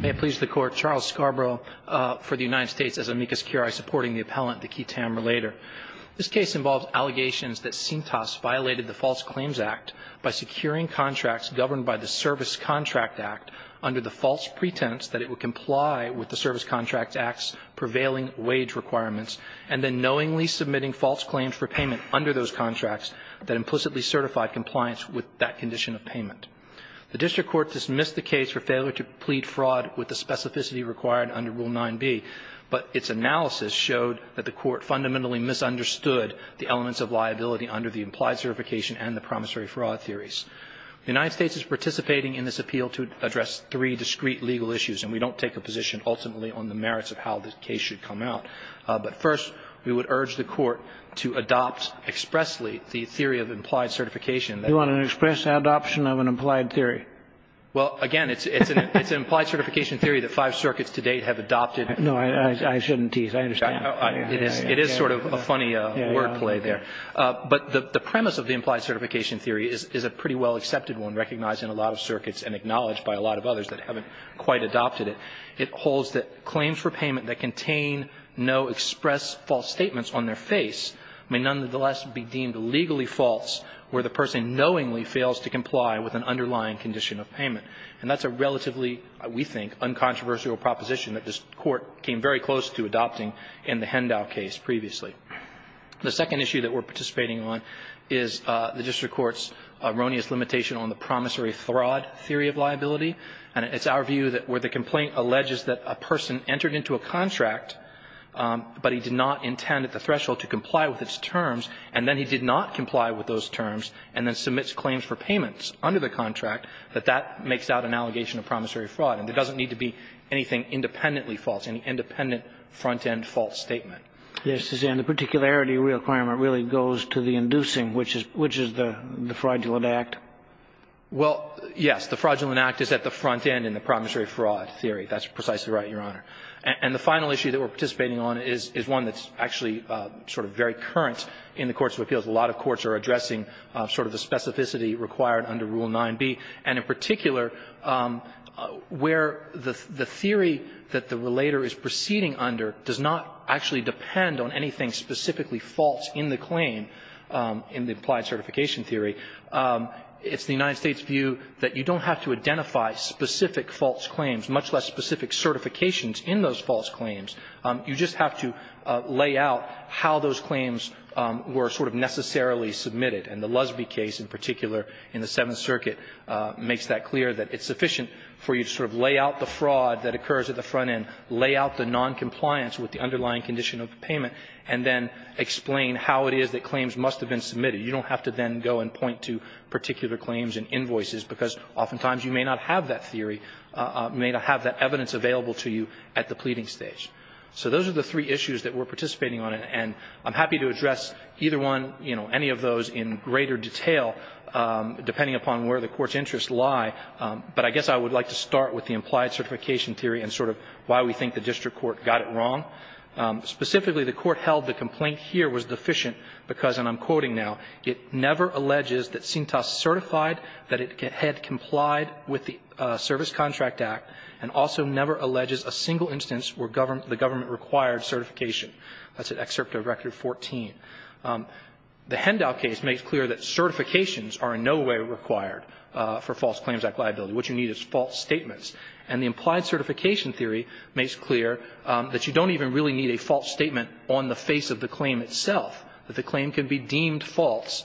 May it please the Court, Charles Scarborough for the United States as amicus curiae supporting the appellant, the key tamer, later. This case involves allegations that Cintas violated the False Claims Act by securing contracts governed by the Service Contract Act under the false pretense that it would comply with the Service Contract Act's prevailing wage requirements and then knowingly submitting false claims for payment under those contracts that implicitly certified compliance with that condition of payment. The District Court dismissed the case for failure to plead fraud with the specificity required under Rule 9b, but its analysis showed that the Court fundamentally misunderstood the elements of liability under the implied certification and the promissory fraud theories. The United States is participating in this appeal to address three discrete legal issues, and we don't take a position ultimately on the merits of how this case should come out. But first, we would urge the Court to adopt expressly the theory of implied certification. You want an express adoption of an implied theory? Well, again, it's an implied certification theory that five circuits to date have adopted. No, I shouldn't tease. I understand. It is sort of a funny wordplay there. But the premise of the implied certification theory is a pretty well accepted one, recognized in a lot of circuits and acknowledged by a lot of others that haven't quite adopted it. It holds that claims for payment that contain no express false statements on their face may nonetheless be deemed legally false where the person knowingly fails to comply with an underlying condition of payment. And that's a relatively, we think, uncontroversial proposition that this Court came very close to adopting in the Hendow case previously. The second issue that we're participating on is the District Court's erroneous limitation on the promissory fraud theory of liability. And it's our view that where the complaint alleges that a person entered into a contract, but he did not intend at the threshold to comply with its terms, and then he did not comply with those terms, and then submits claims for payments under the contract, that that makes out an allegation of promissory fraud. And there doesn't need to be anything independently false, any independent front-end false statement. Yes, and the particularity requirement really goes to the inducing, which is the fraudulent act. Well, yes. The fraudulent act is at the front end in the promissory fraud theory. That's precisely right, Your Honor. And the final issue that we're participating on is one that's actually sort of very current in the courts of appeals. A lot of courts are addressing sort of the specificity required under Rule 9b. And in particular, where the theory that the relator is proceeding under does not actually depend on anything specifically false in the claim, in the applied certification theory. It's the United States' view that you don't have to identify specific false claims, much less specific certifications in those false claims. You just have to lay out how those claims were sort of necessarily submitted. And the Lusby case in particular, in the Seventh Circuit, makes that clear, that it's sufficient for you to sort of lay out the fraud that occurs at the front end, lay out the noncompliance with the underlying condition of the payment, and then explain how it is that claims must have been submitted. You don't have to then go and point to particular claims and invoices, because oftentimes you may not have that theory, may not have that evidence available to you at the pleading stage. So those are the three issues that we're participating on. And I'm happy to address either one, you know, any of those in greater detail, depending upon where the Court's interests lie. But I guess I would like to start with the implied certification theory and sort of why we think the district court got it wrong. Specifically, the Court held the complaint here was deficient because, and I'm quoting now, it never alleges that Cintas certified that it had complied with the Service Contract Act, and also never alleges a single instance where the government required certification. That's at Excerpt of Record 14. The Hendow case makes clear that certifications are in no way required for False Claims Act liability. What you need is false statements. And the implied certification theory makes clear that you don't even really need a false statement on the face of the claim itself, that the claim can be deemed false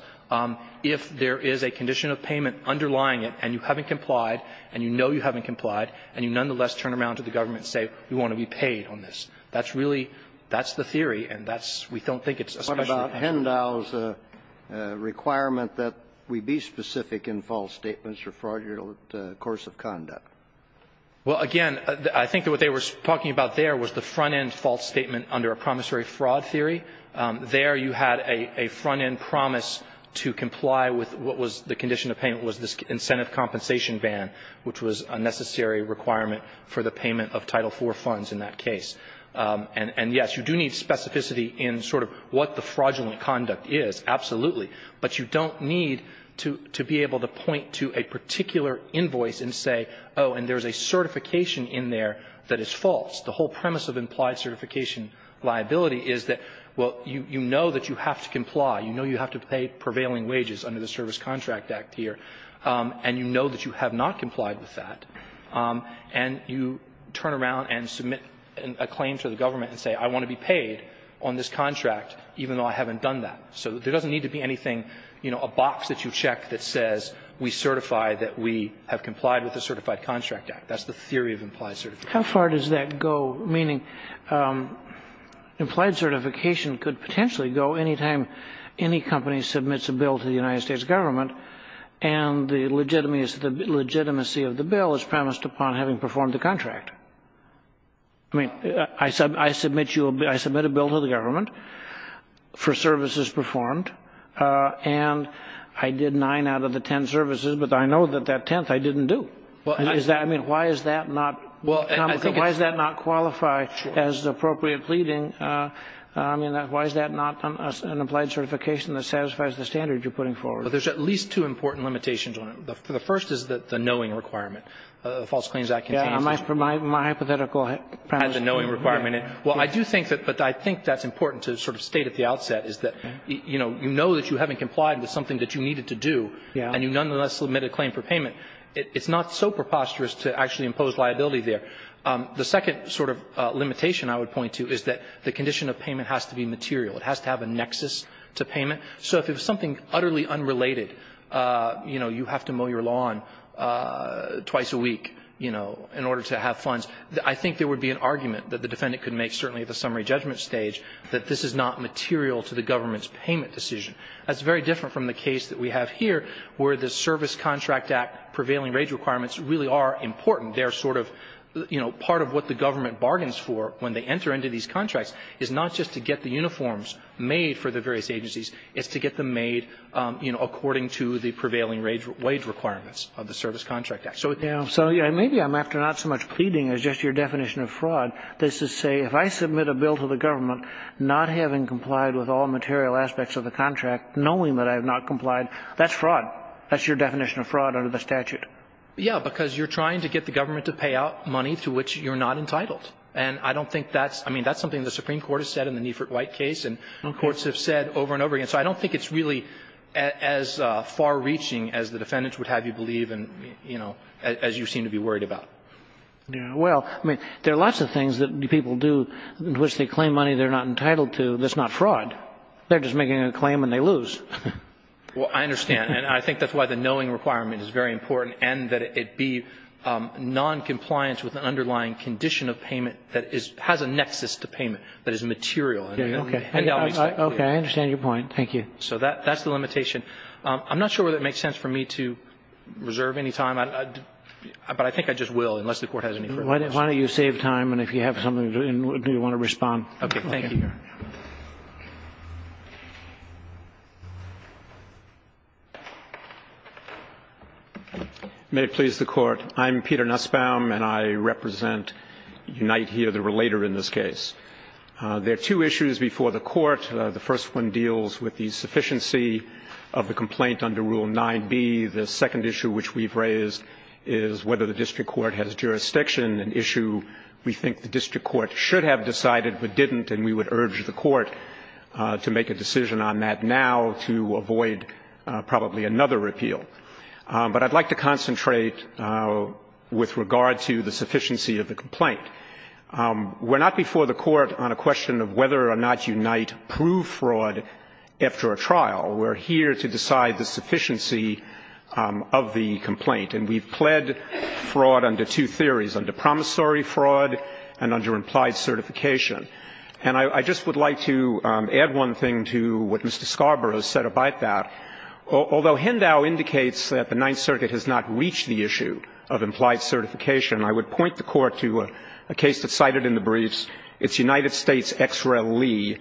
if there is a condition of payment underlying it, and you haven't complied, and you know you haven't complied, and you nonetheless turn around to the government and say, we want to be paid on this. That's really, that's the theory, and that's, we don't think it's a special exception. Kennedy. What about Hendow's requirement that we be specific in false statements or fraudulent course of conduct? Well, again, I think that what they were talking about there was the front-end false statement under a promissory fraud theory. There you had a front-end promise to comply with what was the condition of payment was this incentive compensation ban, which was a necessary requirement for the payment of Title IV funds in that case. And, yes, you do need specificity in sort of what the fraudulent conduct is, absolutely. But you don't need to be able to point to a particular invoice and say, oh, and there is a certification in there that is false. The whole premise of implied certification liability is that, well, you know that you have to comply. You know you have to pay prevailing wages under the Service Contract Act here. And you know that you have not complied with that. And you turn around and submit a claim to the government and say, I want to be paid on this contract, even though I haven't done that. So there doesn't need to be anything, you know, a box that you check that says we certify that we have complied with the Certified Contract Act. That's the theory of implied certification. How far does that go, meaning implied certification could potentially go any time any company submits a bill to the United States government, and the legitimacy of the bill is premised upon having performed the contract? I mean, I submit a bill to the government for services performed, and I did nine out of the ten services, but I know that that tenth I didn't do. I mean, why is that not common? Why does that not qualify as appropriate pleading? I mean, why is that not an implied certification that satisfies the standard you're putting forward? Well, there's at least two important limitations on it. The first is the knowing requirement. The False Claims Act contains this. Yeah, my hypothetical premise. The knowing requirement. Well, I do think that, but I think that's important to sort of state at the outset, is that, you know, you know that you haven't complied with something that you needed to do, and you nonetheless submit a claim for payment. It's not so preposterous to actually impose liability there. The second sort of limitation I would point to is that the condition of payment has to be material. It has to have a nexus to payment. So if it was something utterly unrelated, you know, you have to mow your lawn twice a week, you know, in order to have funds, I think there would be an argument that the defendant could make, certainly at the summary judgment stage, that this is not material to the government's payment decision. That's very different from the case that we have here, where the Service Contract Act prevailing wage requirements really are important. They're sort of, you know, part of what the government bargains for when they enter into these contracts is not just to get the uniforms made for the various agencies, it's to get them made, you know, according to the prevailing wage requirements of the Service Contract Act. So, you know, maybe I'm after not so much pleading as just your definition of fraud. This is to say, if I submit a bill to the government not having complied with all the requirements of the Service Contract Act knowing that I have not complied, that's fraud. That's your definition of fraud under the statute. Yeah, because you're trying to get the government to pay out money to which you're not entitled. And I don't think that's, I mean, that's something the Supreme Court has said in the Neifert-White case, and courts have said over and over again. So I don't think it's really as far-reaching as the defendants would have you believe and, you know, as you seem to be worried about. Well, I mean, there are lots of things that people do in which they claim money they're not entitled to that's not fraud. They're just making a claim and they lose. Well, I understand, and I think that's why the knowing requirement is very important and that it be noncompliance with an underlying condition of payment that has a nexus to payment, that is material. Okay, I understand your point. Thank you. So that's the limitation. I'm not sure whether it makes sense for me to reserve any time, but I think I just will, unless the Court has any further questions. Why don't you save time, and if you have something, do you want to respond? Okay, thank you. May it please the Court. I'm Peter Nussbaum, and I represent UNITE here, the relator in this case. There are two issues before the Court. The first one deals with the sufficiency of the complaint under Rule 9b. The second issue which we've raised is whether the district court has jurisdiction, an issue we think the district court should have decided but didn't, and we would urge the Court to make a decision on that now to avoid probably another repeal. But I'd like to concentrate with regard to the sufficiency of the complaint. We're not before the Court on a question of whether or not UNITE proved fraud after a trial. We're here to decide the sufficiency of the complaint, and we've pled fraud under two theories, under promissory fraud and under implied certification. And I just would like to add one thing to what Mr. Scarborough said about that. Although Hendau indicates that the Ninth Circuit has not reached the issue of implied certification, I would point the Court to a case that's cited in the briefs. It's United States ex-reli,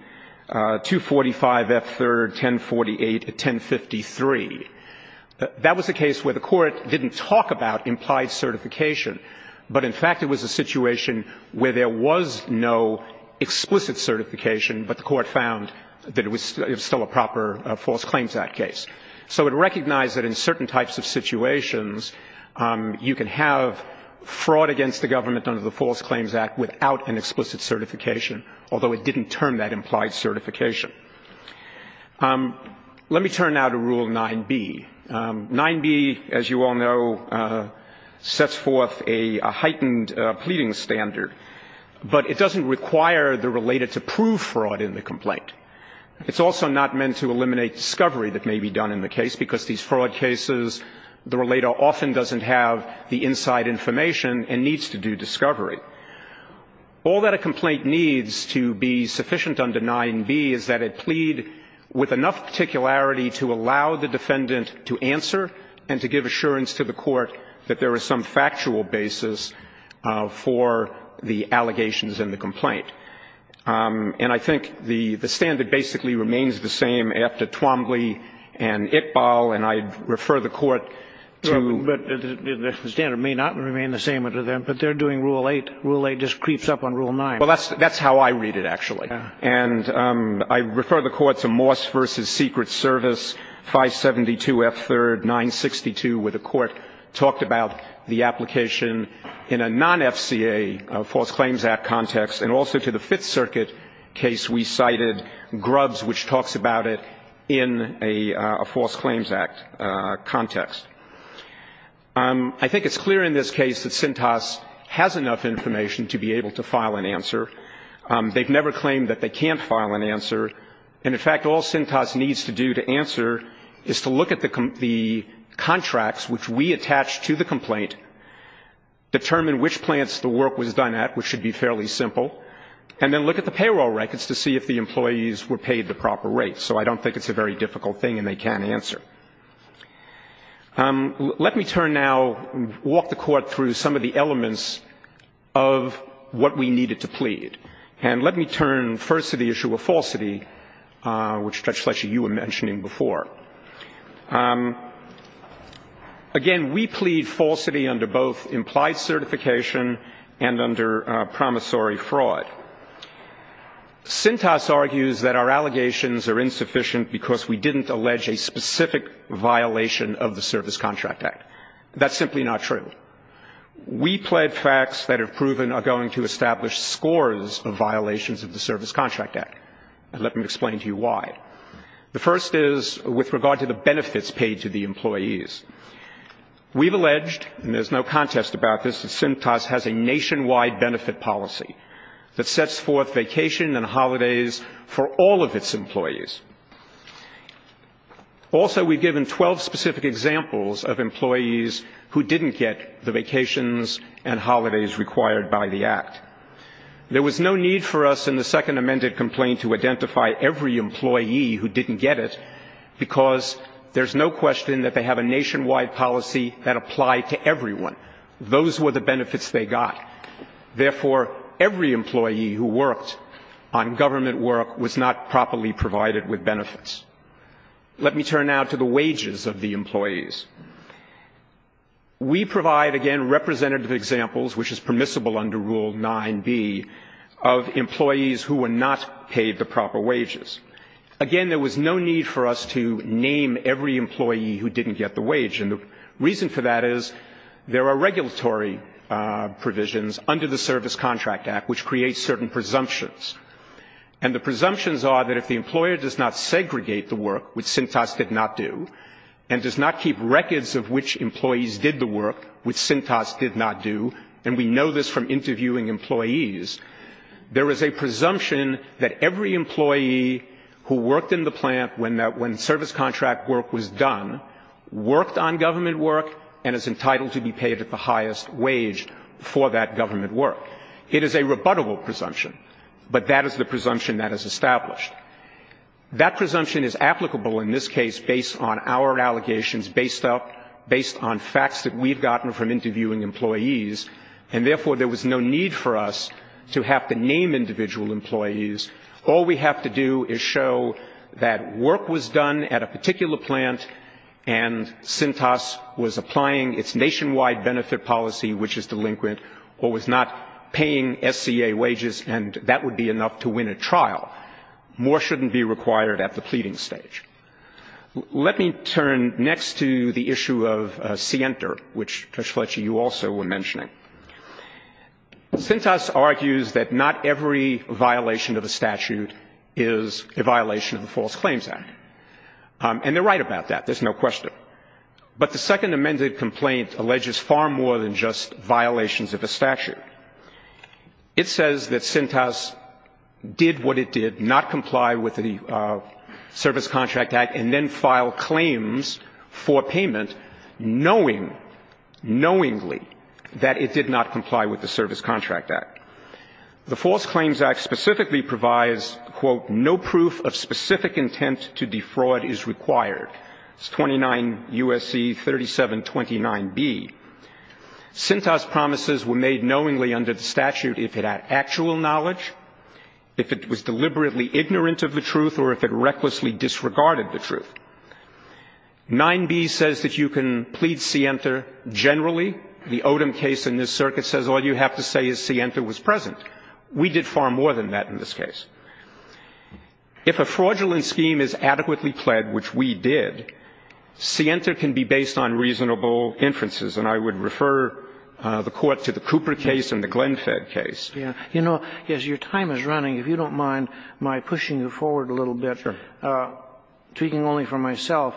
245F3-1048-1053. That was a case where the Court didn't talk about implied certification, but in fact it was a situation where there was no explicit certification, but the Court found that it was still a proper False Claims Act case. So it recognized that in certain types of situations, you can have fraud against the government under the False Claims Act without an explicit certification, although it didn't turn that implied certification. Let me turn now to Rule 9b. 9b, as you all know, sets forth a heightened pleading standard. But it doesn't require the relator to prove fraud in the complaint. It's also not meant to eliminate discovery that may be done in the case, because these fraud cases, the relator often doesn't have the inside information and needs to do discovery. All that a complaint needs to be sufficient under 9b is that it plead with enough particularity to allow the defendant to answer and to give assurance to the Court that there is some factual basis for the allegations in the complaint. And I think the standard basically remains the same after Twombly and Iqbal, and I refer the Court to the standard may not remain the same under them, but they're doing Rule 8. Rule 8 just creeps up on Rule 9. Well, that's how I read it, actually. And I refer the Court to Moss v. Secret Service, 572 F3rd 962, where the Court talked about the application in a non-FCA false claims act context, and also to the Fifth Circuit case we cited, Grubbs, which talks about it in a false claims act context. I think it's clear in this case that Sintas has enough information to be able to file an answer. They've never claimed that they can't file an answer. And in fact, all Sintas needs to do to answer is to look at the contracts which we attach to the complaint, determine which plants the work was done at, which should be fairly simple, and then look at the payroll records to see if the employees were paid the proper rate. So I don't think it's a very difficult thing and they can't answer. Let me turn now, walk the Court through some of the elements of what we needed to plead. And let me turn first to the issue of falsity, which Judge Fletcher, you were mentioning before. Again, we plead falsity under both implied certification and under promissory fraud. Sintas argues that our allegations are insufficient because we didn't allege a specific violation of the Service Contract Act. That's simply not true. We plead facts that have proven are going to establish scores of violations of the Service Contract Act. And let me explain to you why. The first is with regard to the benefits paid to the employees. We've alleged, and there's no contest about this, that Sintas has a nationwide benefit policy that sets forth vacation and holidays for all of its employees. Also, we've given 12 specific examples of employees who didn't get the vacations and holidays required by the Act. There was no need for us in the second amended complaint to identify every employee who didn't get it because there's no question that they have a nationwide policy that applied to everyone. Those were the benefits they got. Therefore, every employee who worked on government work was not properly provided with benefits. Let me turn now to the wages of the employees. We provide, again, representative examples, which is permissible under Rule 9b, of employees who were not paid the proper wages. Again, there was no need for us to name every employee who didn't get the wage. The reason for that is there are regulatory provisions under the Service Contract Act which create certain presumptions. And the presumptions are that if the employer does not segregate the work, which Sintas did not do, and does not keep records of which employees did the work, which Sintas did not do, and we know this from interviewing employees, there is a presumption that every employee who worked in the plant when service contract work was done worked on government work and is entitled to be paid at the highest wage for that government work. It is a rebuttable presumption, but that is the presumption that is established. That presumption is applicable in this case based on our allegations, based on facts that we've gotten from interviewing employees. And therefore, there was no need for us to have to name individual employees. All we have to do is show that work was done at a particular plant and Sintas was applying its nationwide benefit policy, which is delinquent, or was not paying SCA wages, and that would be enough to win a trial. More shouldn't be required at the pleading stage. Let me turn next to the issue of Sienter, which, Judge Fletcher, you also were mentioning. Sintas argues that not every violation of a statute is a violation of the False Claims Act, and they're right about that, there's no question. But the second amended complaint alleges far more than just violations of a statute. It says that Sintas did what it did, not comply with the Service Contract Act, and then file claims for payment knowing, knowingly, that it did not comply with the Service Contract Act. The False Claims Act specifically provides, quote, no proof of specific intent to defraud is required. It's 29 U.S.C. 3729B. Sintas' promises were made knowingly under the statute if it had actual knowledge, if it was deliberately ignorant of the truth, or if it recklessly disregarded the truth. 9B says that you can plead Sienter generally. The Odom case in this circuit says all you have to say is Sienter was present. We did far more than that in this case. If a fraudulent scheme is adequately pled, which we did, Sienter can be based on reasonable inferences, and I would refer the Court to the Cooper case and the Glenfed case. You know, as your time is running, if you don't mind my pushing you forward a little bit, speaking only for myself,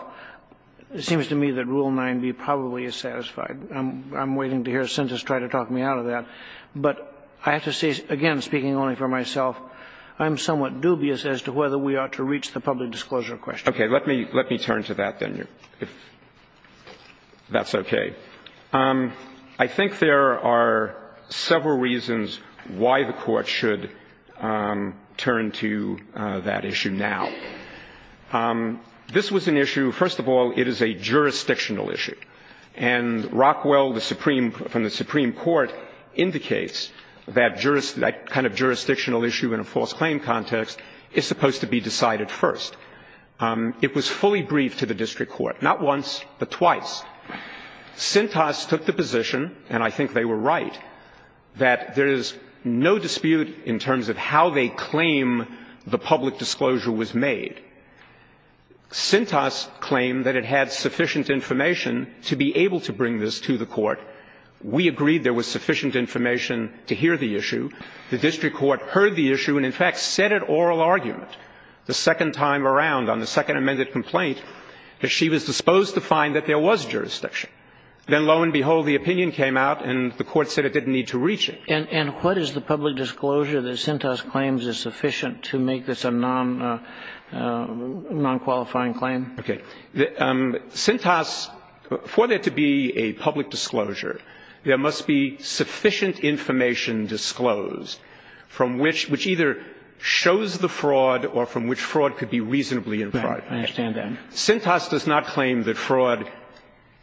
it seems to me that Rule 9B probably is satisfied. I'm waiting to hear Sintas try to talk me out of that. But I have to say, again, speaking only for myself, I'm somewhat dubious as to whether we ought to reach the public disclosure question. Okay. Let me turn to that, then, if that's okay. I think there are several reasons why the Court should turn to that issue now. This was an issue, first of all, it is a jurisdictional issue. And Rockwell, the Supreme – from the Supreme Court, indicates that that kind of jurisdictional issue in a false claim context is supposed to be decided first. It was fully briefed to the district court, not once, but twice. Sintas took the position, and I think they were right, that there is no dispute in terms of how they claim the public disclosure was made. Sintas claimed that it had sufficient information to be able to bring this to the Court. We agreed there was sufficient information to hear the issue. The district court heard the issue and, in fact, said it oral argument the second time around on the second amended complaint that she was disposed to find that there was jurisdiction. Then, lo and behold, the opinion came out and the Court said it didn't need to reach it. And what is the public disclosure that Sintas claims is sufficient to make this a non-qualifying claim? Okay. Sintas, for there to be a public disclosure, there must be sufficient information disclosed from which – which either shows the fraud or from which fraud could be reasonably implied. Right. I understand that. Sintas does not claim that fraud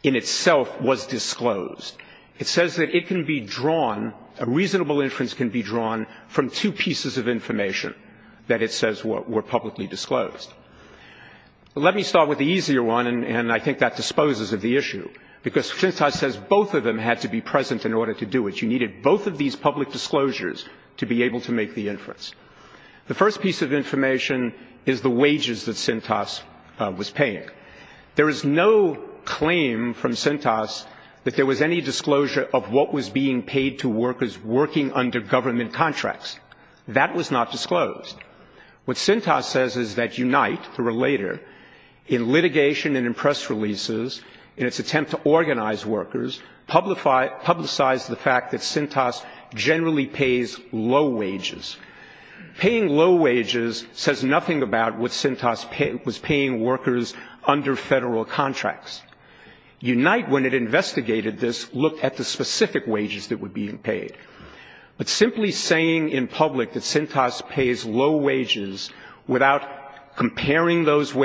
in itself was disclosed. It says that it can be drawn – a reasonable inference can be drawn from two pieces of information that it says were publicly disclosed. Let me start with the easier one, and I think that disposes of the issue, because Sintas says both of them had to be present in order to do it. She needed both of these public disclosures to be able to make the inference. The first piece of information is the wages that Sintas was paying. There is no claim from Sintas that there was any disclosure of what was being paid to workers working under government contracts. That was not disclosed. What Sintas says is that Unite, the Relator, in litigation and in press releases, in its attempt to organize workers, publicized the fact that Sintas generally pays low wages. Paying low wages says nothing about what Sintas was paying workers under federal contracts. Unite, when it investigated this, looked at the specific wages that were being paid. But simply saying in public that Sintas pays low wages without comparing those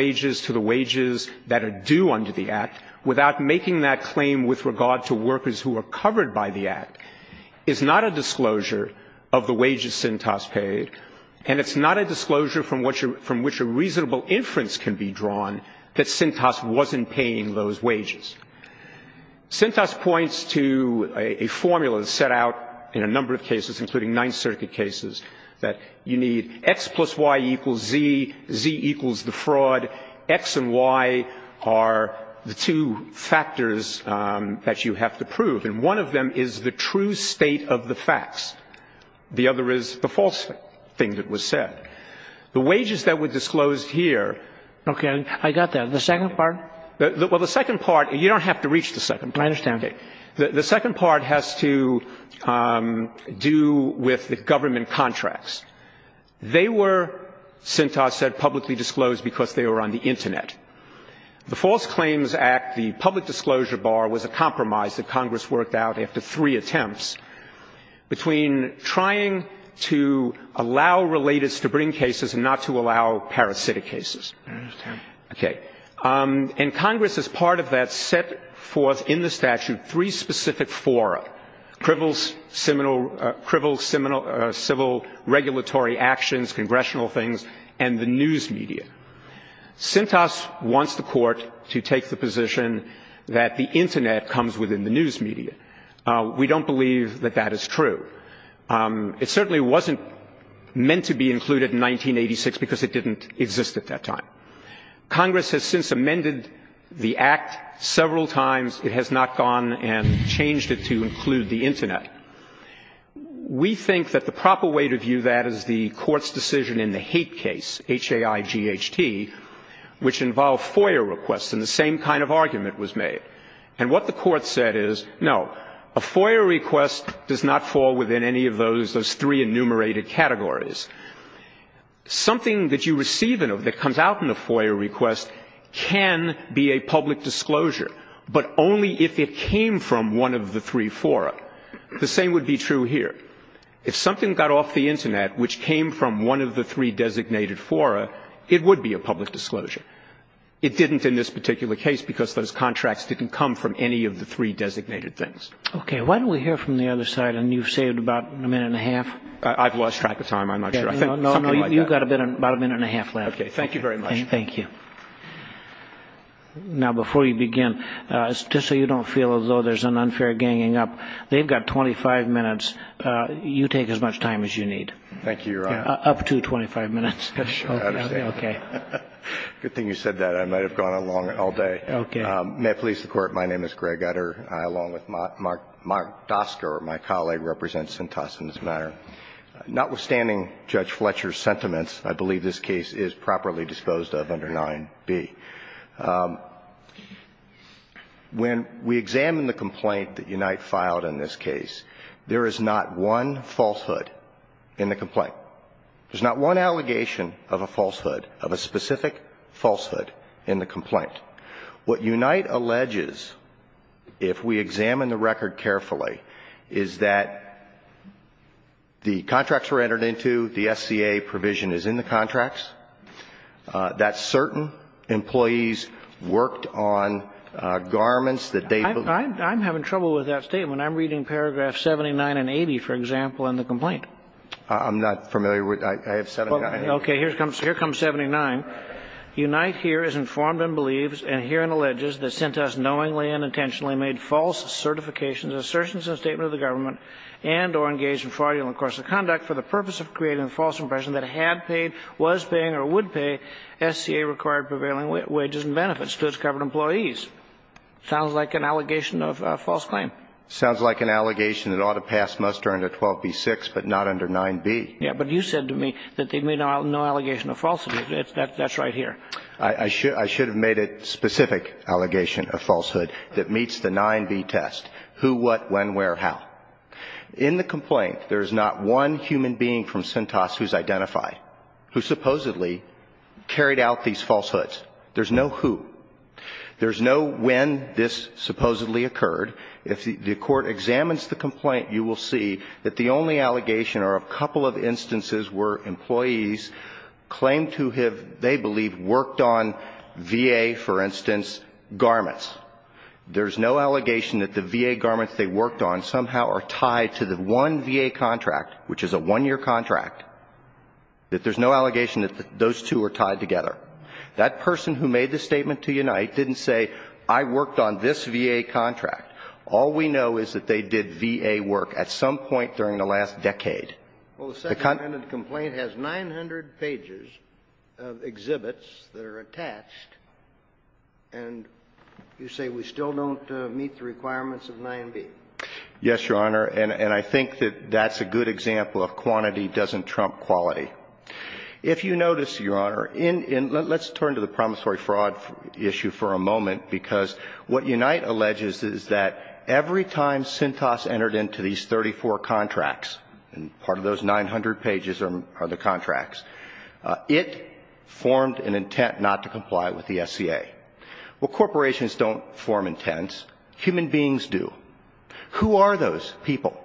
making that claim with regard to workers who are covered by the Act is not a disclosure of the wages Sintas paid, and it's not a disclosure from which a reasonable inference can be drawn that Sintas wasn't paying those wages. Sintas points to a formula set out in a number of cases, including Ninth Circuit cases, that you need X plus Y equals Z, Z equals the fraud, X and Y are the two factors that you have to prove. And one of them is the true state of the facts. The other is the false thing that was said. The wages that were disclosed here... Okay, I got that. The second part? Well, the second part, you don't have to reach the second part. I understand. The second part has to do with the government contracts. They were, Sintas said, publicly disclosed because they were on the Internet. The False Claims Act, the public disclosure bar, was a compromise that Congress worked out after three attempts between trying to allow relatives to bring cases and not to allow parasitic cases. I understand. Okay. And Congress, as part of that, set forth in the statute three specific fora, criminal, civil, regulatory actions, congressional things, and the news media. Sintas wants the court to take the position that the Internet comes within the news media. We don't believe that that is true. It certainly wasn't meant to be included in 1986 because it didn't exist at that time. Congress has since amended the act several times. It has not gone and changed it to include the Internet. We think that the proper way to view that is the court's decision in the hate case, H-A-I-G-H-T, which involved FOIA requests, and the same kind of argument was made. And what the court said is, no, a FOIA request does not fall within any of those, those three enumerated categories. Something that you receive that comes out in a FOIA request can be a public disclosure, but only if it came from one of the three fora. The same would be true here. If something got off the Internet which came from one of the three designated fora, it would be a public disclosure. It didn't in this particular case because those contracts didn't come from any of the three designated things. Okay. Why don't we hear from the other side, and you've saved about a minute and a half. I've lost track of time. I'm not sure. I think something like that. No, no, you've got about a minute and a half left. Okay. Thank you very much. Thank you. Now, before you begin, just so you don't feel as though there's an unfair ganging up, they've got 25 minutes. You take as much time as you need. Thank you, Your Honor. Up to 25 minutes. Sure. I understand. Okay. Good thing you said that. I might have gone along all day. Okay. May it please the Court, my name is Greg Udder. I, along with Mark Dostker, my colleague, represent St. Austin as a matter. Notwithstanding Judge Fletcher's sentiments, I believe this case is properly disposed of under 9b. When we examine the complaint that Unite filed in this case, there is not one falsehood in the complaint. There's not one allegation of a falsehood, of a specific falsehood in the complaint. What Unite alleges, if we examine the record carefully, is that the contracts were entered into, the SCA provision is in the contracts, that certain employees worked on garments that they ---- I'm having trouble with that statement. I'm reading paragraphs 79 and 80, for example, in the complaint. I'm not familiar with that. I have 79. Okay. Here comes 79. Unite here is informed and believes and herein alleges that Cintas knowingly and intentionally made false certifications, assertions in the statement of the government and or engaged in fraudulent course of conduct for the purpose of creating a false impression that had paid, was paying or would pay SCA-required prevailing wages and benefits to its covered employees. Sounds like an allegation of a false claim. Sounds like an allegation that ought to pass muster under 12b-6, but not under 9b. Yes, but you said to me that they made no allegation of falsehood. That's right here. I should have made a specific allegation of falsehood that meets the 9b test. Who, what, when, where, how. In the complaint, there is not one human being from Cintas who is identified, who supposedly carried out these falsehoods. There's no who. There's no when this supposedly occurred. If the court examines the complaint, you will see that the only allegation are a couple of instances where employees claim to have, they believe, worked on VA, for instance, garments. There's no allegation that the VA garments they worked on somehow are tied to the one VA contract, which is a one-year contract, that there's no allegation that those two are tied together. That person who made the statement to Unite didn't say, I worked on this VA contract. All we know is that they did VA work at some point during the last decade. Well, the second-minute complaint has 900 pages of exhibits that are attached, and you say we still don't meet the requirements of 9b. Yes, Your Honor. And I think that that's a good example of quantity doesn't trump quality. If you notice, Your Honor, in the – let's turn to the promissory fraud issue for a moment, because what Unite alleges is that every time Cintas entered into these 34 contracts, and part of those 900 pages are the contracts, it formed an intent not to comply with the SCA. Well, corporations don't form intents. Human beings do. Who are those people?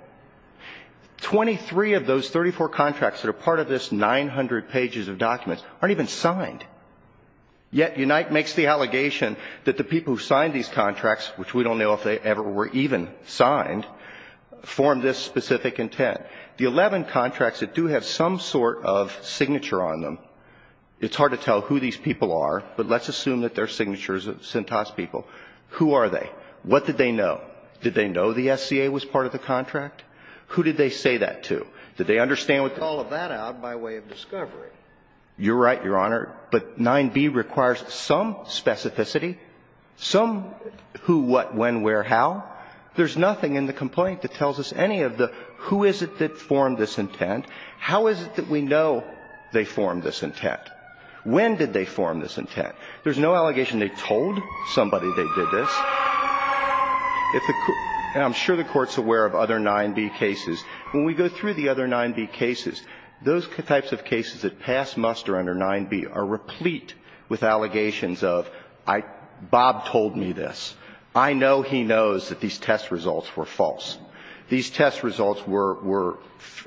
Twenty-three of those 34 contracts that are part of this 900 pages of documents aren't even signed. Yet Unite makes the allegation that the people who signed these contracts, which we don't know if they ever were even signed, formed this specific intent. The 11 contracts that do have some sort of signature on them, it's hard to tell who these people are, but let's assume that they're signatures of Cintas people. Who are they? What did they know? Did they know the SCA was part of the contract? Did they understand what they were saying? You're right, Your Honor, but 9b requires some specificity, some who, what, when, where, how. There's nothing in the complaint that tells us any of the who is it that formed this intent, how is it that we know they formed this intent, when did they form this intent. There's no allegation they told somebody they did this. And I'm sure the Court's aware of other 9b cases. When we go through the other 9b cases, those types of cases that pass muster under 9b are replete with allegations of I, Bob told me this. I know he knows that these test results were false. These test results were, were,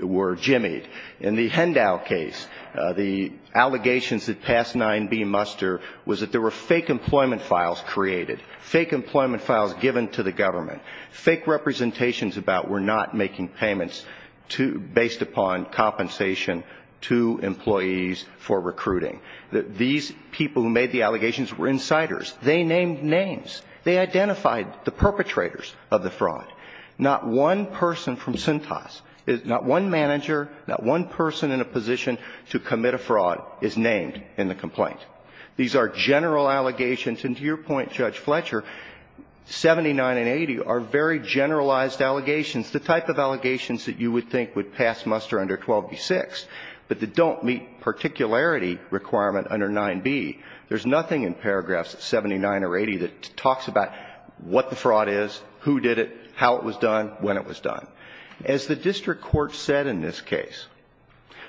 were jimmied. In the Hendow case, the allegations that passed 9b muster was that there were fake employment files created, fake employment files given to the government, fake employment files given to the government, and that the people who made the allegations were insiders. They named names. They identified the perpetrators of the fraud. Not one person from Cintas, not one manager, not one person in a position to commit a fraud is named in the complaint. These are general allegations, and to your point, Judge Fletcher, 79 and 80 are very generalized allegations, the type of allegations that you would think would pass muster under 12b-6, but that don't meet particularity requirement under 9b. There's nothing in paragraphs 79 or 80 that talks about what the fraud is, who did it, how it was done, when it was done. As the district court said in this case,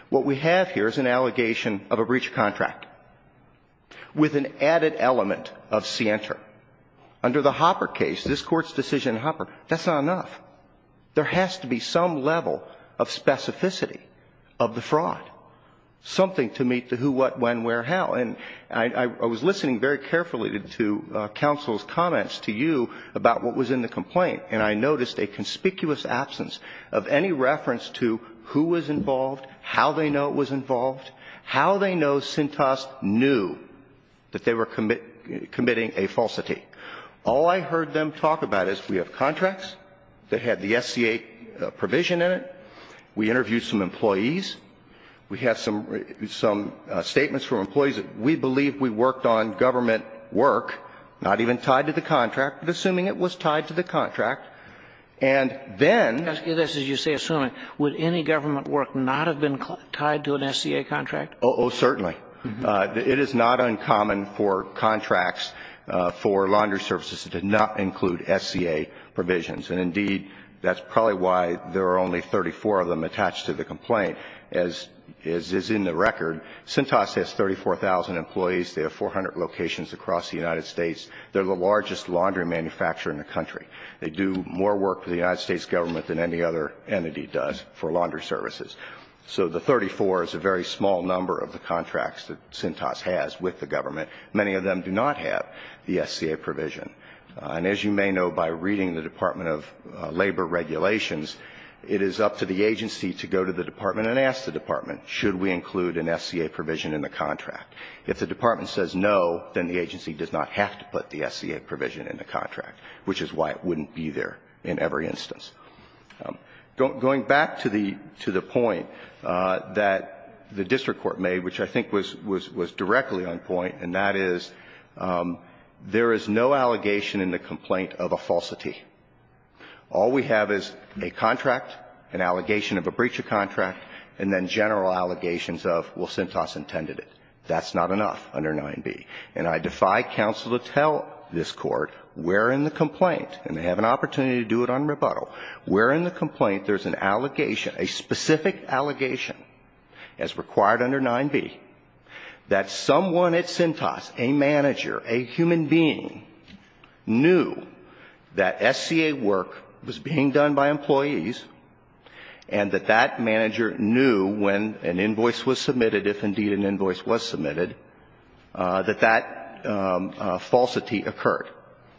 what we have here is an allegation of a breach of contract with an added element of scienter. Under the Hopper case, this Court's decision in Hopper, that's not enough. There has to be some level of specificity of the fraud, something to meet the who, what, when, where, how, and I was listening very carefully to counsel's comments to you about what was in the complaint, and I noticed a conspicuous absence of any reference to who was involved, how they know it was involved, how they know Cintas knew that they were committing a falsity. All I heard them talk about is we have contracts that had the SCA provision in it, we interviewed some employees, we had some statements from employees that we believe we worked on government work, not even tied to the contract, but assuming it was tied to the contract, and then ---- As you say, assuming. Would any government work not have been tied to an SCA contract? Oh, certainly. It is not uncommon for contracts for laundry services to not include SCA provisions, and indeed, that's probably why there are only 34 of them attached to the complaint. As is in the record, Cintas has 34,000 employees, they have 400 locations across the United States, they're the largest laundry manufacturer in the country. They do more work for the United States government than any other entity does for laundry services. So the 34 is a very small number of the contracts that Cintas has with the government. Many of them do not have the SCA provision. And as you may know by reading the Department of Labor regulations, it is up to the agency to go to the department and ask the department, should we include an SCA provision in the contract? If the department says no, then the agency does not have to put the SCA provision in the contract, which is why it wouldn't be there in every instance. Going back to the point that the district court made, which I think was directly on point, and that is, there is no allegation in the complaint of a falsity. All we have is a contract, an allegation of a breach of contract, and then general allegations of, well, Cintas intended it. That's not enough under 9b. And I defy counsel to tell this Court, we're in the complaint, and I have an opportunity to do it on rebuttal. We're in the complaint. There's an allegation, a specific allegation, as required under 9b, that someone at Cintas, a manager, a human being, knew that SCA work was being done by employees and that that manager knew when an invoice was submitted, if indeed an invoice was submitted, that that falsity occurred.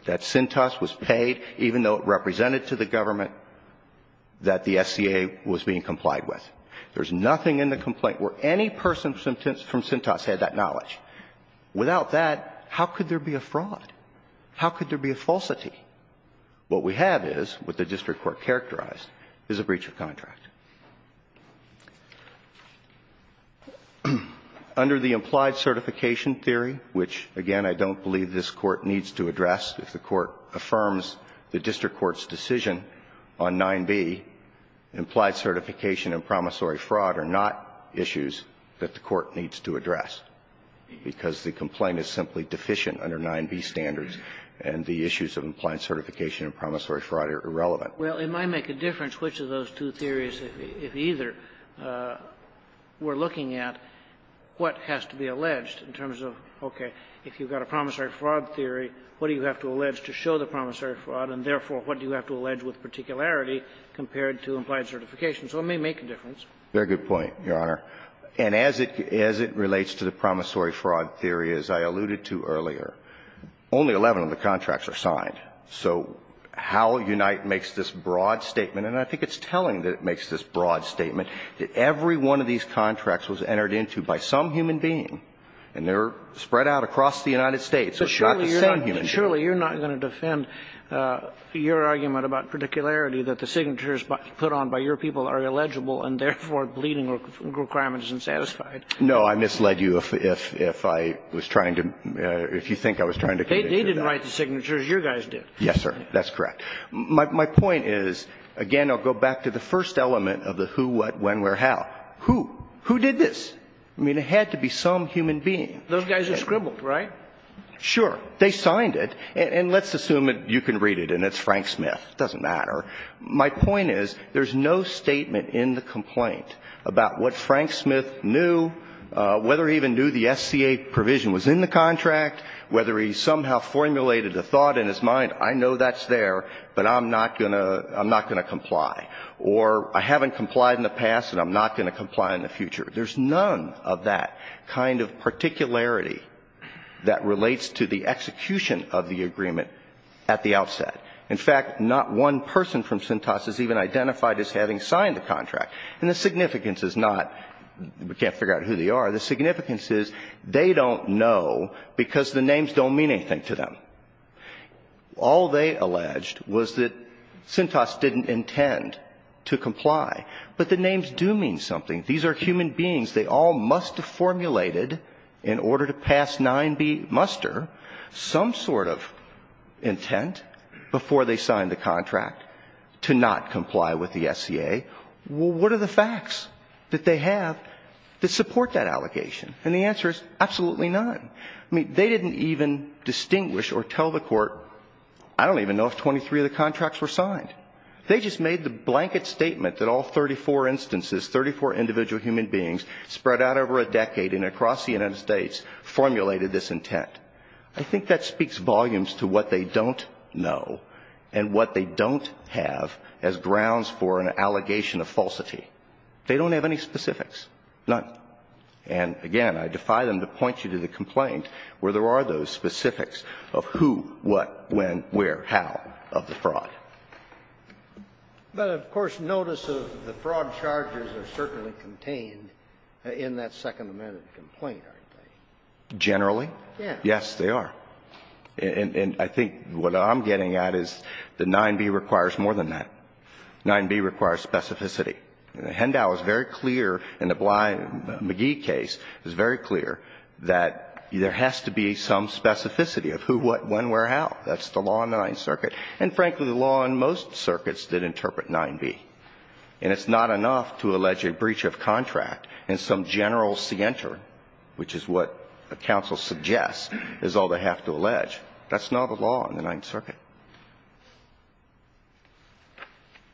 That Cintas was paid, even though it represented to the government that the SCA was being complied with. There's nothing in the complaint where any person from Cintas had that knowledge. Without that, how could there be a fraud? How could there be a falsity? What we have is, what the district court characterized, is a breach of contract. Under the implied certification theory, which, again, I don't believe this Court needs to address, if the Court affirms the district court's decision on 9b, implied certification and promissory fraud are not issues that the Court needs to address, because the complaint is simply deficient under 9b standards, and the issues of implied certification and promissory fraud are irrelevant. Well, it might make a difference which of those two theories, if either, we're looking at what has to be alleged in terms of, okay, if you've got a promissory fraud theory, what do you have to allege to show the promissory fraud, and therefore, what do you have to allege with particularity compared to implied certification? So it may make a difference. Very good point, Your Honor. And as it relates to the promissory fraud theory, as I alluded to earlier, only 11 of the contracts are signed. So how Unite makes this broad statement, and I think it's telling that it makes this point that the signature is entered into by some human being, and they're spread out across the United States, so it's not the same human being. But surely you're not going to defend your argument about particularity, that the signatures put on by your people are illegible, and therefore, bleeding requirements and satisfied. No, I misled you if I was trying to – if you think I was trying to convict you of that. They didn't write the signatures. You guys did. Yes, sir. That's correct. My point is, again, I'll go back to the first element of the who, what, when, where, how. Who? Who did this? I mean, it had to be some human being. Those guys are scribbled, right? Sure. They signed it. And let's assume you can read it and it's Frank Smith. It doesn't matter. My point is there's no statement in the complaint about what Frank Smith knew, whether he even knew the SCA provision was in the contract, whether he somehow formulated a thought in his mind, I know that's there, but I'm not going to – I'm not going to comply, or I haven't complied in the past and I'm not going to comply in the future. There's none of that kind of particularity that relates to the execution of the agreement at the outset. In fact, not one person from Cintas is even identified as having signed the contract. And the significance is not we can't figure out who they are. The significance is they don't know because the names don't mean anything to them. All they alleged was that Cintas didn't intend to comply. But the names do mean something. These are human beings. They all must have formulated in order to pass 9b muster some sort of intent before they signed the contract to not comply with the SCA. Well, what are the facts that they have that support that allegation? And the answer is absolutely none. I mean, they didn't even distinguish or tell the court, I don't even know if 23 of the contracts were signed. They just made the blanket statement that all 34 instances, 34 individual human beings spread out over a decade and across the United States formulated this intent. I think that speaks volumes to what they don't know and what they don't have as grounds for an allegation of falsity. They don't have any specifics, none. And, again, I defy them to point you to the complaint where there are those specifics of who, what, when, where, how of the fraud. But, of course, notice of the fraud charges are certainly contained in that second amendment complaint, aren't they? Generally. Yes, they are. And I think what I'm getting at is that 9b requires more than that. 9b requires specificity. Hendow is very clear in the Bly-McGee case is very clear that there has to be some specificity of who, what, when, where, how. That's the law in the Ninth Circuit. And, frankly, the law in most circuits did interpret 9b. And it's not enough to allege a breach of contract in some general scienter, which is what a counsel suggests is all they have to allege. That's not a law in the Ninth Circuit.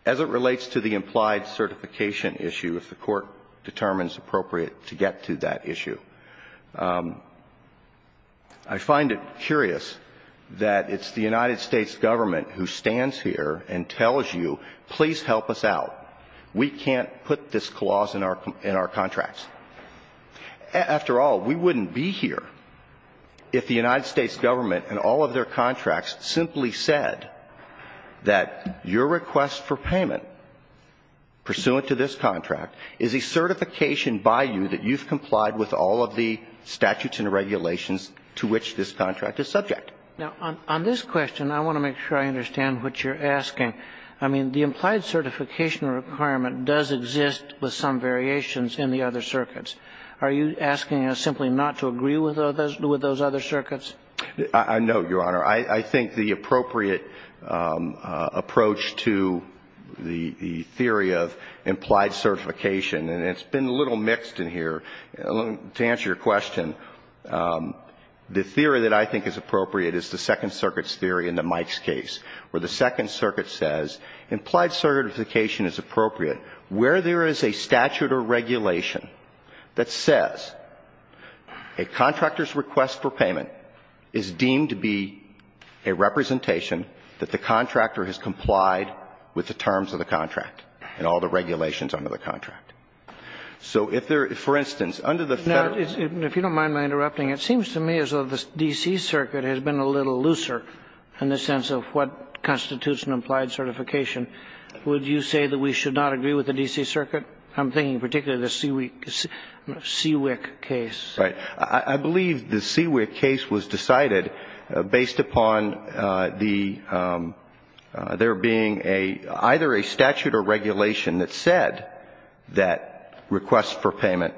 As it relates to the implied certification issue, if the Court determines appropriate to get to that issue, I find it curious that it's the United States government who stands here and tells you, please help us out. We can't put this clause in our contracts. After all, we wouldn't be here if the United States government and all of their contracts simply said that your request for payment pursuant to this contract is a certification by you that you've complied with all of the statutes and regulations to which this contract is subject. Now, on this question, I want to make sure I understand what you're asking. I mean, the implied certification requirement does exist with some variations in the other circuits. Are you asking us simply not to agree with those other circuits? No, Your Honor. I think the appropriate approach to the theory of implied certification, and it's been a little mixed in here, to answer your question, the theory that I think is appropriate is the Second Circuit's theory in the Mike's case, where the Second Circuit says implied certification is appropriate where there is a statute or regulation that says a contractor's request for payment is deemed to be a representation that the contractor has complied with the terms of the contract and all the regulations under the contract. So if there – for instance, under the Federal – Now, if you don't mind my interrupting, it seems to me as though the D.C. Circuit has been a little looser in the sense of what constitutes an implied certification. Would you say that we should not agree with the D.C. Circuit? I'm thinking particularly the CWIC case. Right. I believe the CWIC case was decided based upon the – there being a – either a statute or regulation that said that request for payment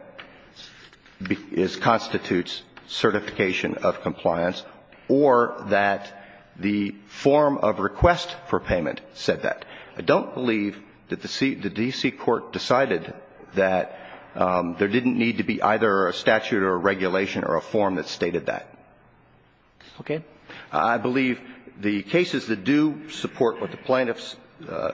constitutes certification of compliance or that the form of request for payment said that. I don't believe that the D.C. Court decided that there didn't need to be either a statute or a regulation or a form that stated that. Okay. I believe the cases that do support what the plaintiffs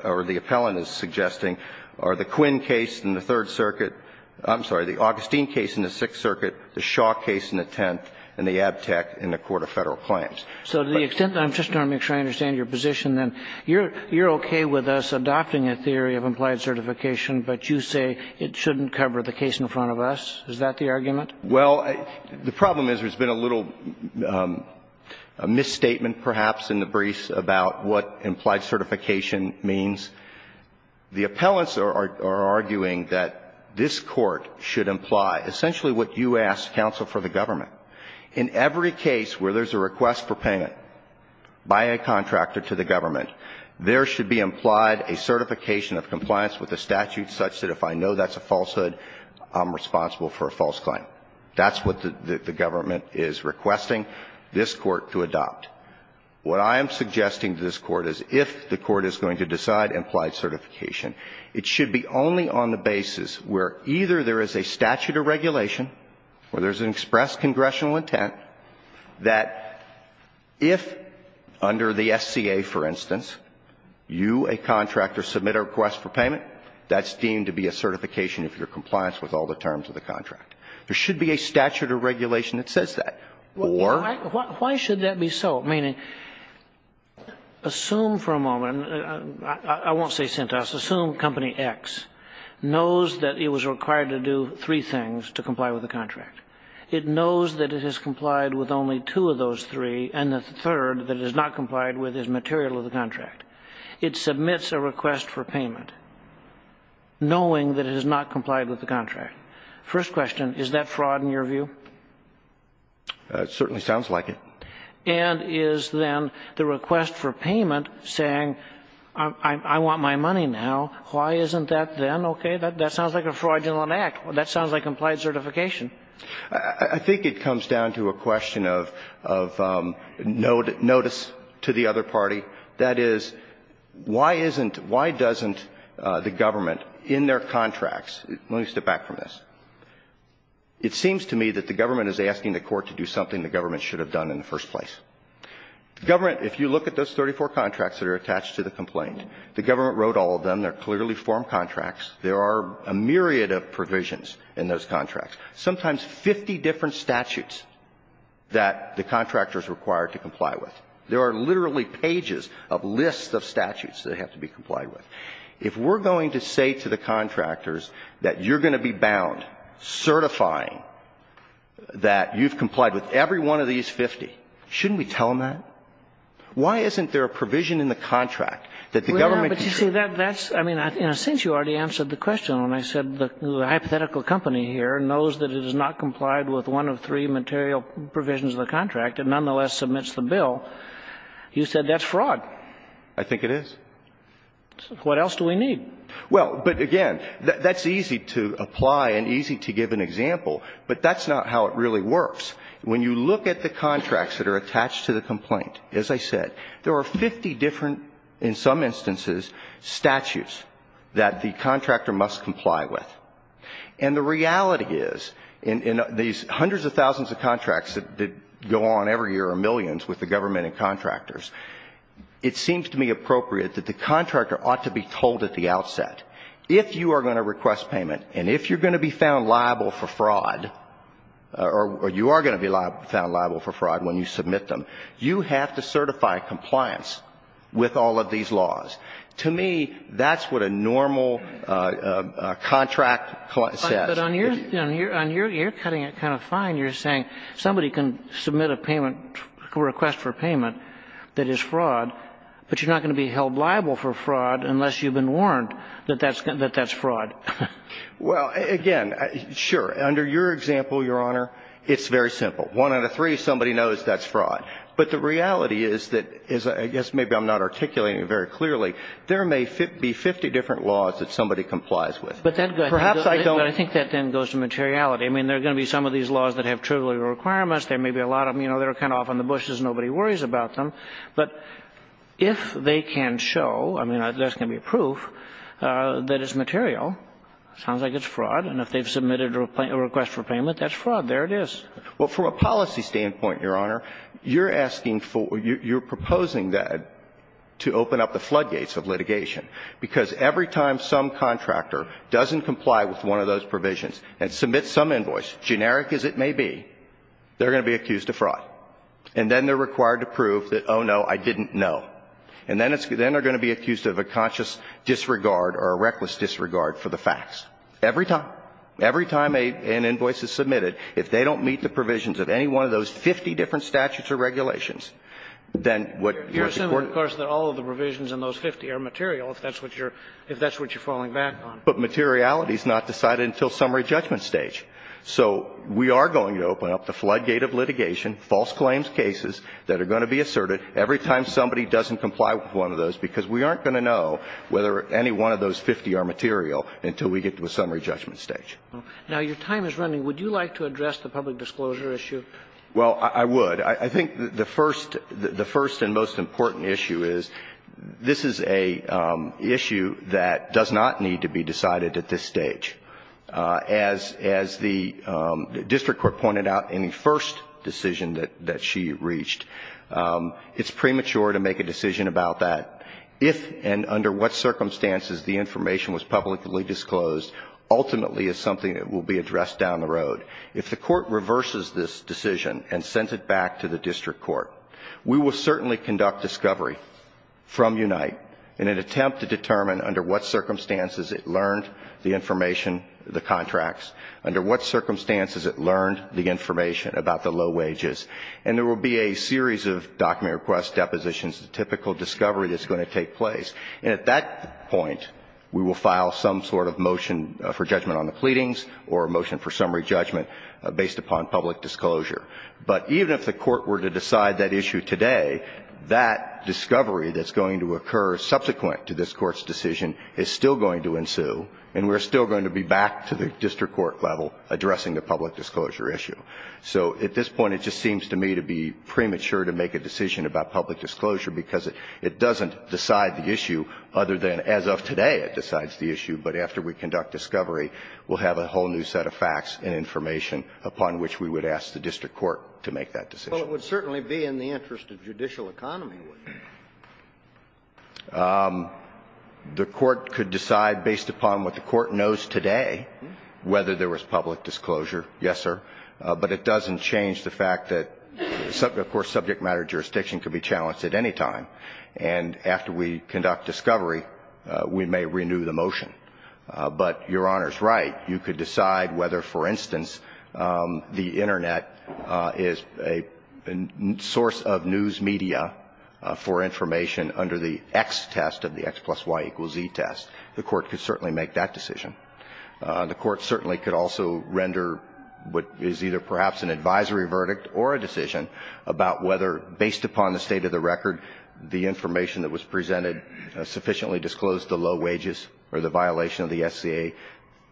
or the appellant is suggesting are the Quinn case in the Third Circuit – I'm sorry, the Augustine case in the Sixth Circuit, the Shaw case in the Tenth, and the Abtec in the Court of Federal Claims. So to the extent that I'm just trying to make sure I understand your position, then you're okay with us adopting a theory of implied certification, but you say it shouldn't cover the case in front of us? Is that the argument? Well, the problem is there's been a little misstatement, perhaps, in the briefs about what implied certification means. The appellants are arguing that this Court should imply essentially what you ask counsel for the government. In every case where there's a request for payment by a contractor to the government, there should be implied a certification of compliance with the statute such that if I know that's a falsehood, I'm responsible for a false claim. That's what the government is requesting this Court to adopt. What I am suggesting to this Court is if the Court is going to decide implied certification, it should be only on the basis where either there is a statute or regulation where there's an express congressional intent that if under the SCA, for instance, you, a contractor, submit a request for payment, that's deemed to be a certification of your compliance with all the terms of the contract. There should be a statute or regulation that says that. Or why should that be so? Meaning, assume for a moment, I won't say syntax, assume Company X knows that it was required to submit two things to comply with the contract. It knows that it has complied with only two of those three, and the third that it has not complied with is material of the contract. It submits a request for payment knowing that it has not complied with the contract. First question, is that fraud in your view? It certainly sounds like it. And is then the request for payment saying, I want my money now. Why isn't that then okay? That sounds like a fraudulent act. That sounds like complied certification. I think it comes down to a question of notice to the other party. That is, why isn't, why doesn't the government in their contracts, let me step back from this. It seems to me that the government is asking the Court to do something the government should have done in the first place. The government, if you look at those 34 contracts that are attached to the complaint, the government wrote all of them. They're clearly form contracts. There are a myriad of provisions in those contracts, sometimes 50 different statutes that the contractor is required to comply with. There are literally pages of lists of statutes that have to be complied with. If we're going to say to the contractors that you're going to be bound certifying that you've complied with every one of these 50, shouldn't we tell them that? Why isn't there a provision in the contract that the government can say? Well, that's, I mean, in a sense, you already answered the question when I said the hypothetical company here knows that it has not complied with one of three material provisions of the contract and nonetheless submits the bill. You said that's fraud. I think it is. What else do we need? Well, but again, that's easy to apply and easy to give an example, but that's not how it really works. When you look at the contracts that are attached to the complaint, as I said, there are 50 different, in some instances, statutes that the contractor must comply with. And the reality is, in these hundreds of thousands of contracts that go on every year or millions with the government and contractors, it seems to me appropriate that the contractor ought to be told at the outset, if you are going to request payment and if you're going to be found liable for fraud, or you are going to be required to certify compliance with all of these laws. To me, that's what a normal contract says. But on your end, you're cutting it kind of fine. You're saying somebody can submit a payment, request for payment that is fraud, but you're not going to be held liable for fraud unless you've been warned that that's fraud. Well, again, sure. Under your example, Your Honor, it's very simple. One out of three, somebody knows that's fraud. But the reality is that as I guess maybe I'm not articulating it very clearly, there may be 50 different laws that somebody complies with. But then go ahead. Perhaps I don't. But I think that then goes to materiality. I mean, there are going to be some of these laws that have trivial requirements. There may be a lot of them. You know, they're kind of off in the bushes. Nobody worries about them. But if they can show, I mean, there's going to be proof that it's material, it sounds like it's fraud, and if they've submitted a request for payment, that's There it is. Well, from a policy standpoint, Your Honor, you're asking for or you're proposing that to open up the floodgates of litigation. Because every time some contractor doesn't comply with one of those provisions and submits some invoice, generic as it may be, they're going to be accused of fraud. And then they're required to prove that, oh, no, I didn't know. And then they're going to be accused of a conscious disregard or a reckless disregard for the facts. Every time. Every time an invoice is submitted, if they don't meet the provisions of any one of those 50 different statutes or regulations, then what you're supporting You're assuming, of course, that all of the provisions in those 50 are material if that's what you're falling back on. But materiality is not decided until summary judgment stage. So we are going to open up the floodgate of litigation, false claims cases that are going to be asserted every time somebody doesn't comply with one of those, because we aren't going to know whether any one of those 50 are material until we get to the summary judgment stage. Now, your time is running. Would you like to address the public disclosure issue? Well, I would. I think the first and most important issue is this is an issue that does not need to be decided at this stage. As the district court pointed out in the first decision that she reached, it's premature to make a decision about that if and under what circumstances the information was publicly disclosed ultimately is something that will be addressed down the road. If the court reverses this decision and sends it back to the district court, we will certainly conduct discovery from Unite in an attempt to determine under what circumstances it learned the information, the contracts, under what circumstances it learned the information about the low wages. And there will be a series of document requests, depositions, the typical discovery that's going to take place. And at that point, we will file some sort of motion for judgment on the pleadings or a motion for summary judgment based upon public disclosure. But even if the court were to decide that issue today, that discovery that's going to occur subsequent to this Court's decision is still going to ensue, and we're still going to be back to the district court level addressing the public disclosure issue. So at this point, it just seems to me to be premature to make a decision about public disclosure because it doesn't decide the issue other than as of today it decides the issue, but after we conduct discovery, we'll have a whole new set of facts and information upon which we would ask the district court to make that decision. Well, it would certainly be in the interest of judicial economy, wouldn't it? The court could decide based upon what the court knows today whether there was public disclosure, yes, sir. But it doesn't change the fact that, of course, subject matter jurisdiction could be challenged at any time. And after we conduct discovery, we may renew the motion. But Your Honor's right. You could decide whether, for instance, the Internet is a source of news media for information under the X test of the X plus Y equals Z test. The court could certainly make that decision. The court certainly could also render what is either perhaps an advisory verdict or a decision about whether, based upon the state of the record, the information that was presented sufficiently disclosed the low wages or the violation of the SCA.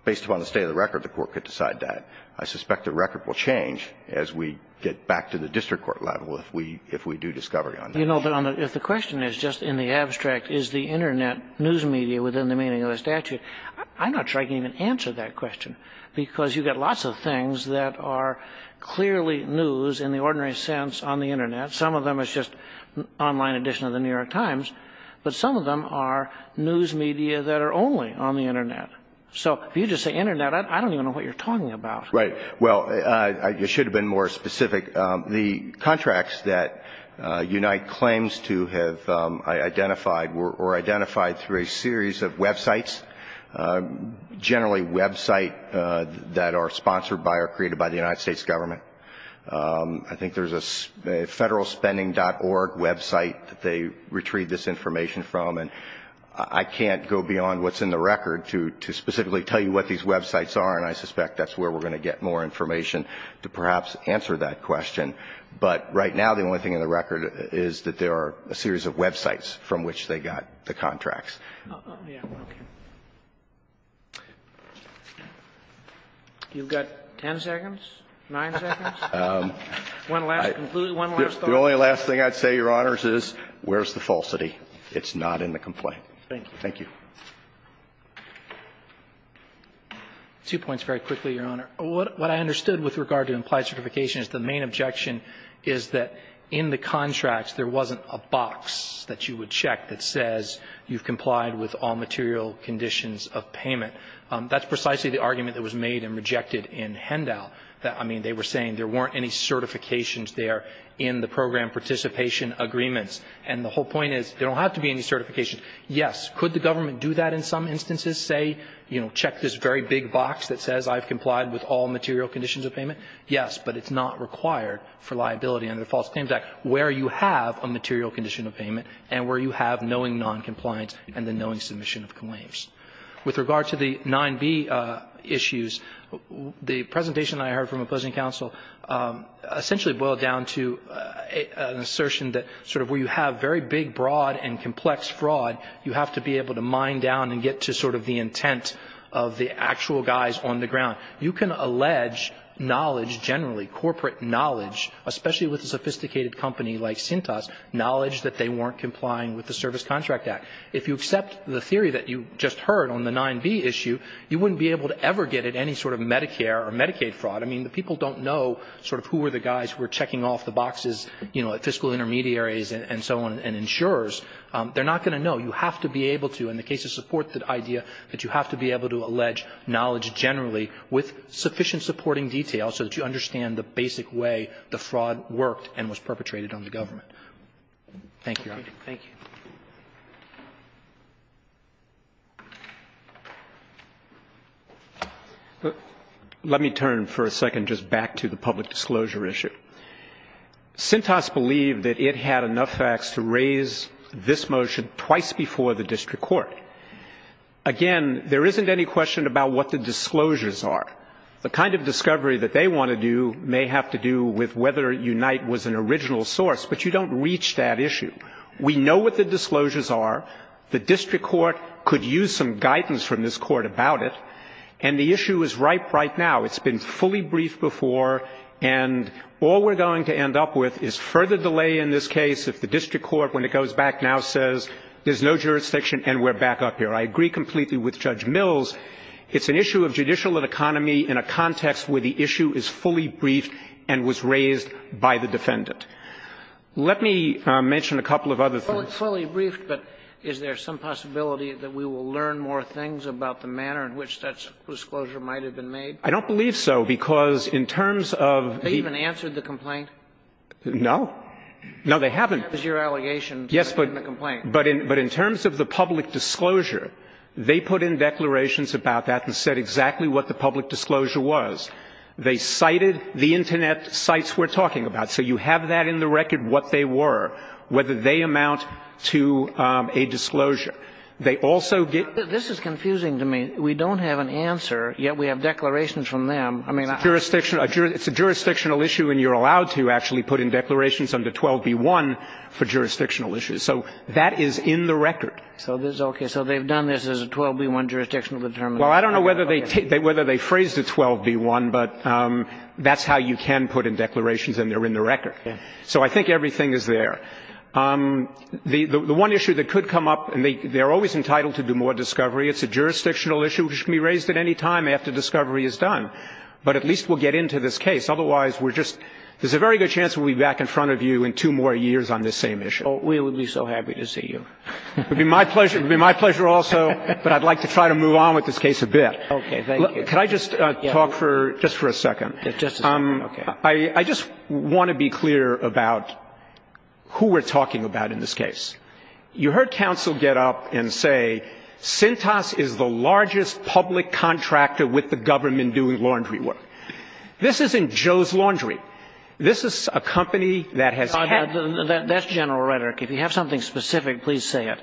Based upon the state of the record, the court could decide that. I suspect the record will change as we get back to the district court level if we do discovery on that. Your Honor, if the question is just in the abstract, is the Internet news media within the meaning of the statute, I'm not sure I can even answer that question, because you've got lots of things that are clearly news in the ordinary sense on the Internet. Some of them is just online edition of the New York Times, but some of them are news media that are only on the Internet. So if you just say Internet, I don't even know what you're talking about. Right. Well, it should have been more specific. The contracts that Unite claims to have identified were identified through a series of websites, generally websites that are sponsored by or created by the United States government. I think there's a federalspending.org website that they retrieved this information from, and I can't go beyond what's in the record to specifically tell you what these websites are, and I suspect that's where we're going to get more information to perhaps answer that question. But right now, the only thing in the record is that there are a series of websites from which they got the contracts. You've got 10 seconds, 9 seconds, one last conclusion, one last thought. The only last thing I'd say, Your Honors, is where's the falsity? It's not in the complaint. Thank you. Thank you. Two points very quickly, Your Honor. What I understood with regard to implied certification is the main objection is that in the contracts, there wasn't a box that you would check that says you've complied with all material conditions of payment. That's precisely the argument that was made and rejected in Hendow. I mean, they were saying there weren't any certifications there in the program participation agreements. And the whole point is there don't have to be any certifications. Yes, could the government do that in some instances, say, you know, check this very big box that says I've complied with all material conditions of payment? Yes, but it's not required for liability under the False Claims Act where you have a material condition of payment and where you have knowing noncompliance and the knowing submission of claims. With regard to the 9b issues, the presentation I heard from opposing counsel essentially boiled down to an assertion that sort of where you have very big, broad and complex fraud, you have to be able to mine down and get to sort of the intent of the actual guys on the ground. You can allege knowledge generally, corporate knowledge, especially with a sophisticated company like Cintas, knowledge that they weren't complying with the Service Contract Act. If you accept the theory that you just heard on the 9b issue, you wouldn't be able to ever get at any sort of Medicare or Medicaid fraud. I mean, the people don't know sort of who were the guys who were checking off the They're not going to know. You have to be able to, in the case of supported idea, that you have to be able to allege knowledge generally with sufficient supporting detail so that you understand the basic way the fraud worked and was perpetrated on the government. Thank you, Your Honor. Thank you. Let me turn for a second just back to the public disclosure issue. Cintas believed that it had enough facts to raise this motion twice before the district court. Again, there isn't any question about what the disclosures are. The kind of discovery that they want to do may have to do with whether Unite was an original source, but you don't reach that issue. We know what the disclosures are. The district court could use some guidance from this court about it. And the issue is ripe right now. It's been fully briefed before. And all we're going to end up with is further delay in this case if the district court, when it goes back now, says there's no jurisdiction and we're back up here. I agree completely with Judge Mills. It's an issue of judicial and economy in a context where the issue is fully briefed and was raised by the defendant. Let me mention a couple of other things. It's fully briefed, but is there some possibility that we will learn more things about the manner in which that disclosure might have been made? I don't believe so, because in terms of the ---- Have they even answered the complaint? No. No, they haven't. That was your allegation. Yes, but in terms of the public disclosure, they put in declarations about that and said exactly what the public disclosure was. They cited the Internet sites we're talking about. So you have that in the record, what they were, whether they amount to a disclosure. They also get ---- This is confusing to me. We don't have an answer, yet we have declarations from them. I mean ---- It's a jurisdictional issue, and you're allowed to actually put in declarations under 12b-1 for jurisdictional issues. So that is in the record. Okay. So they've done this as a 12b-1 jurisdictional determination. Well, I don't know whether they phrased it 12b-1, but that's how you can put in declarations, and they're in the record. So I think everything is there. The one issue that could come up, and they're always entitled to do more discovery. It's a jurisdictional issue which can be raised at any time after discovery is done. But at least we'll get into this case. Otherwise, we're just ---- there's a very good chance we'll be back in front of you in two more years on this same issue. Well, we would be so happy to see you. It would be my pleasure. It would be my pleasure also, but I'd like to try to move on with this case a bit. Okay. Thank you. Could I just talk for just for a second? Just a second. Okay. I just want to be clear about who we're talking about in this case. You heard counsel get up and say Sintas is the largest public contractor with the government doing laundry work. This isn't Joe's Laundry. This is a company that has had ---- That's general rhetoric. If you have something specific, please say it.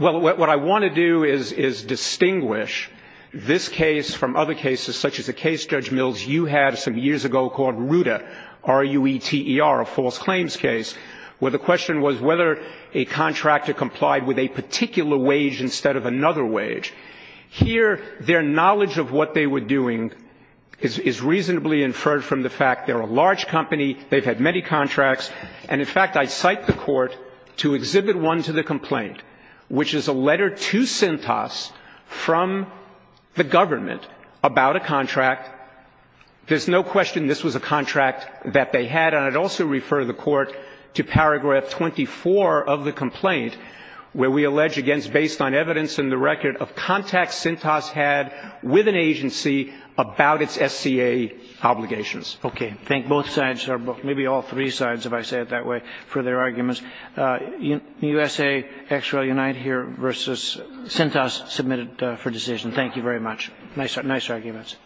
Well, what I want to do is distinguish this case from other cases such as a case, Judge Mills, you had some years ago called Ruta, R-U-E-T-E-R, a false claims case, where the question was whether a contractor complied with a particular wage instead of another wage. Here, their knowledge of what they were doing is reasonably inferred from the fact they're a large company. They've had many contracts. And, in fact, I cite the Court to Exhibit I to the complaint, which is a letter to Sintas from the government about a contract. There's no question this was a contract that they had. And I'd also refer the Court to Paragraph 24 of the complaint, where we allege against based on evidence in the record of contacts Sintas had with an agency about its SCA obligations. Okay. Thank both sides, or maybe all three sides, if I say it that way, for their arguments. USA, XREL, Unite here versus Sintas submitted for decision. Thank you very much. Nice arguments.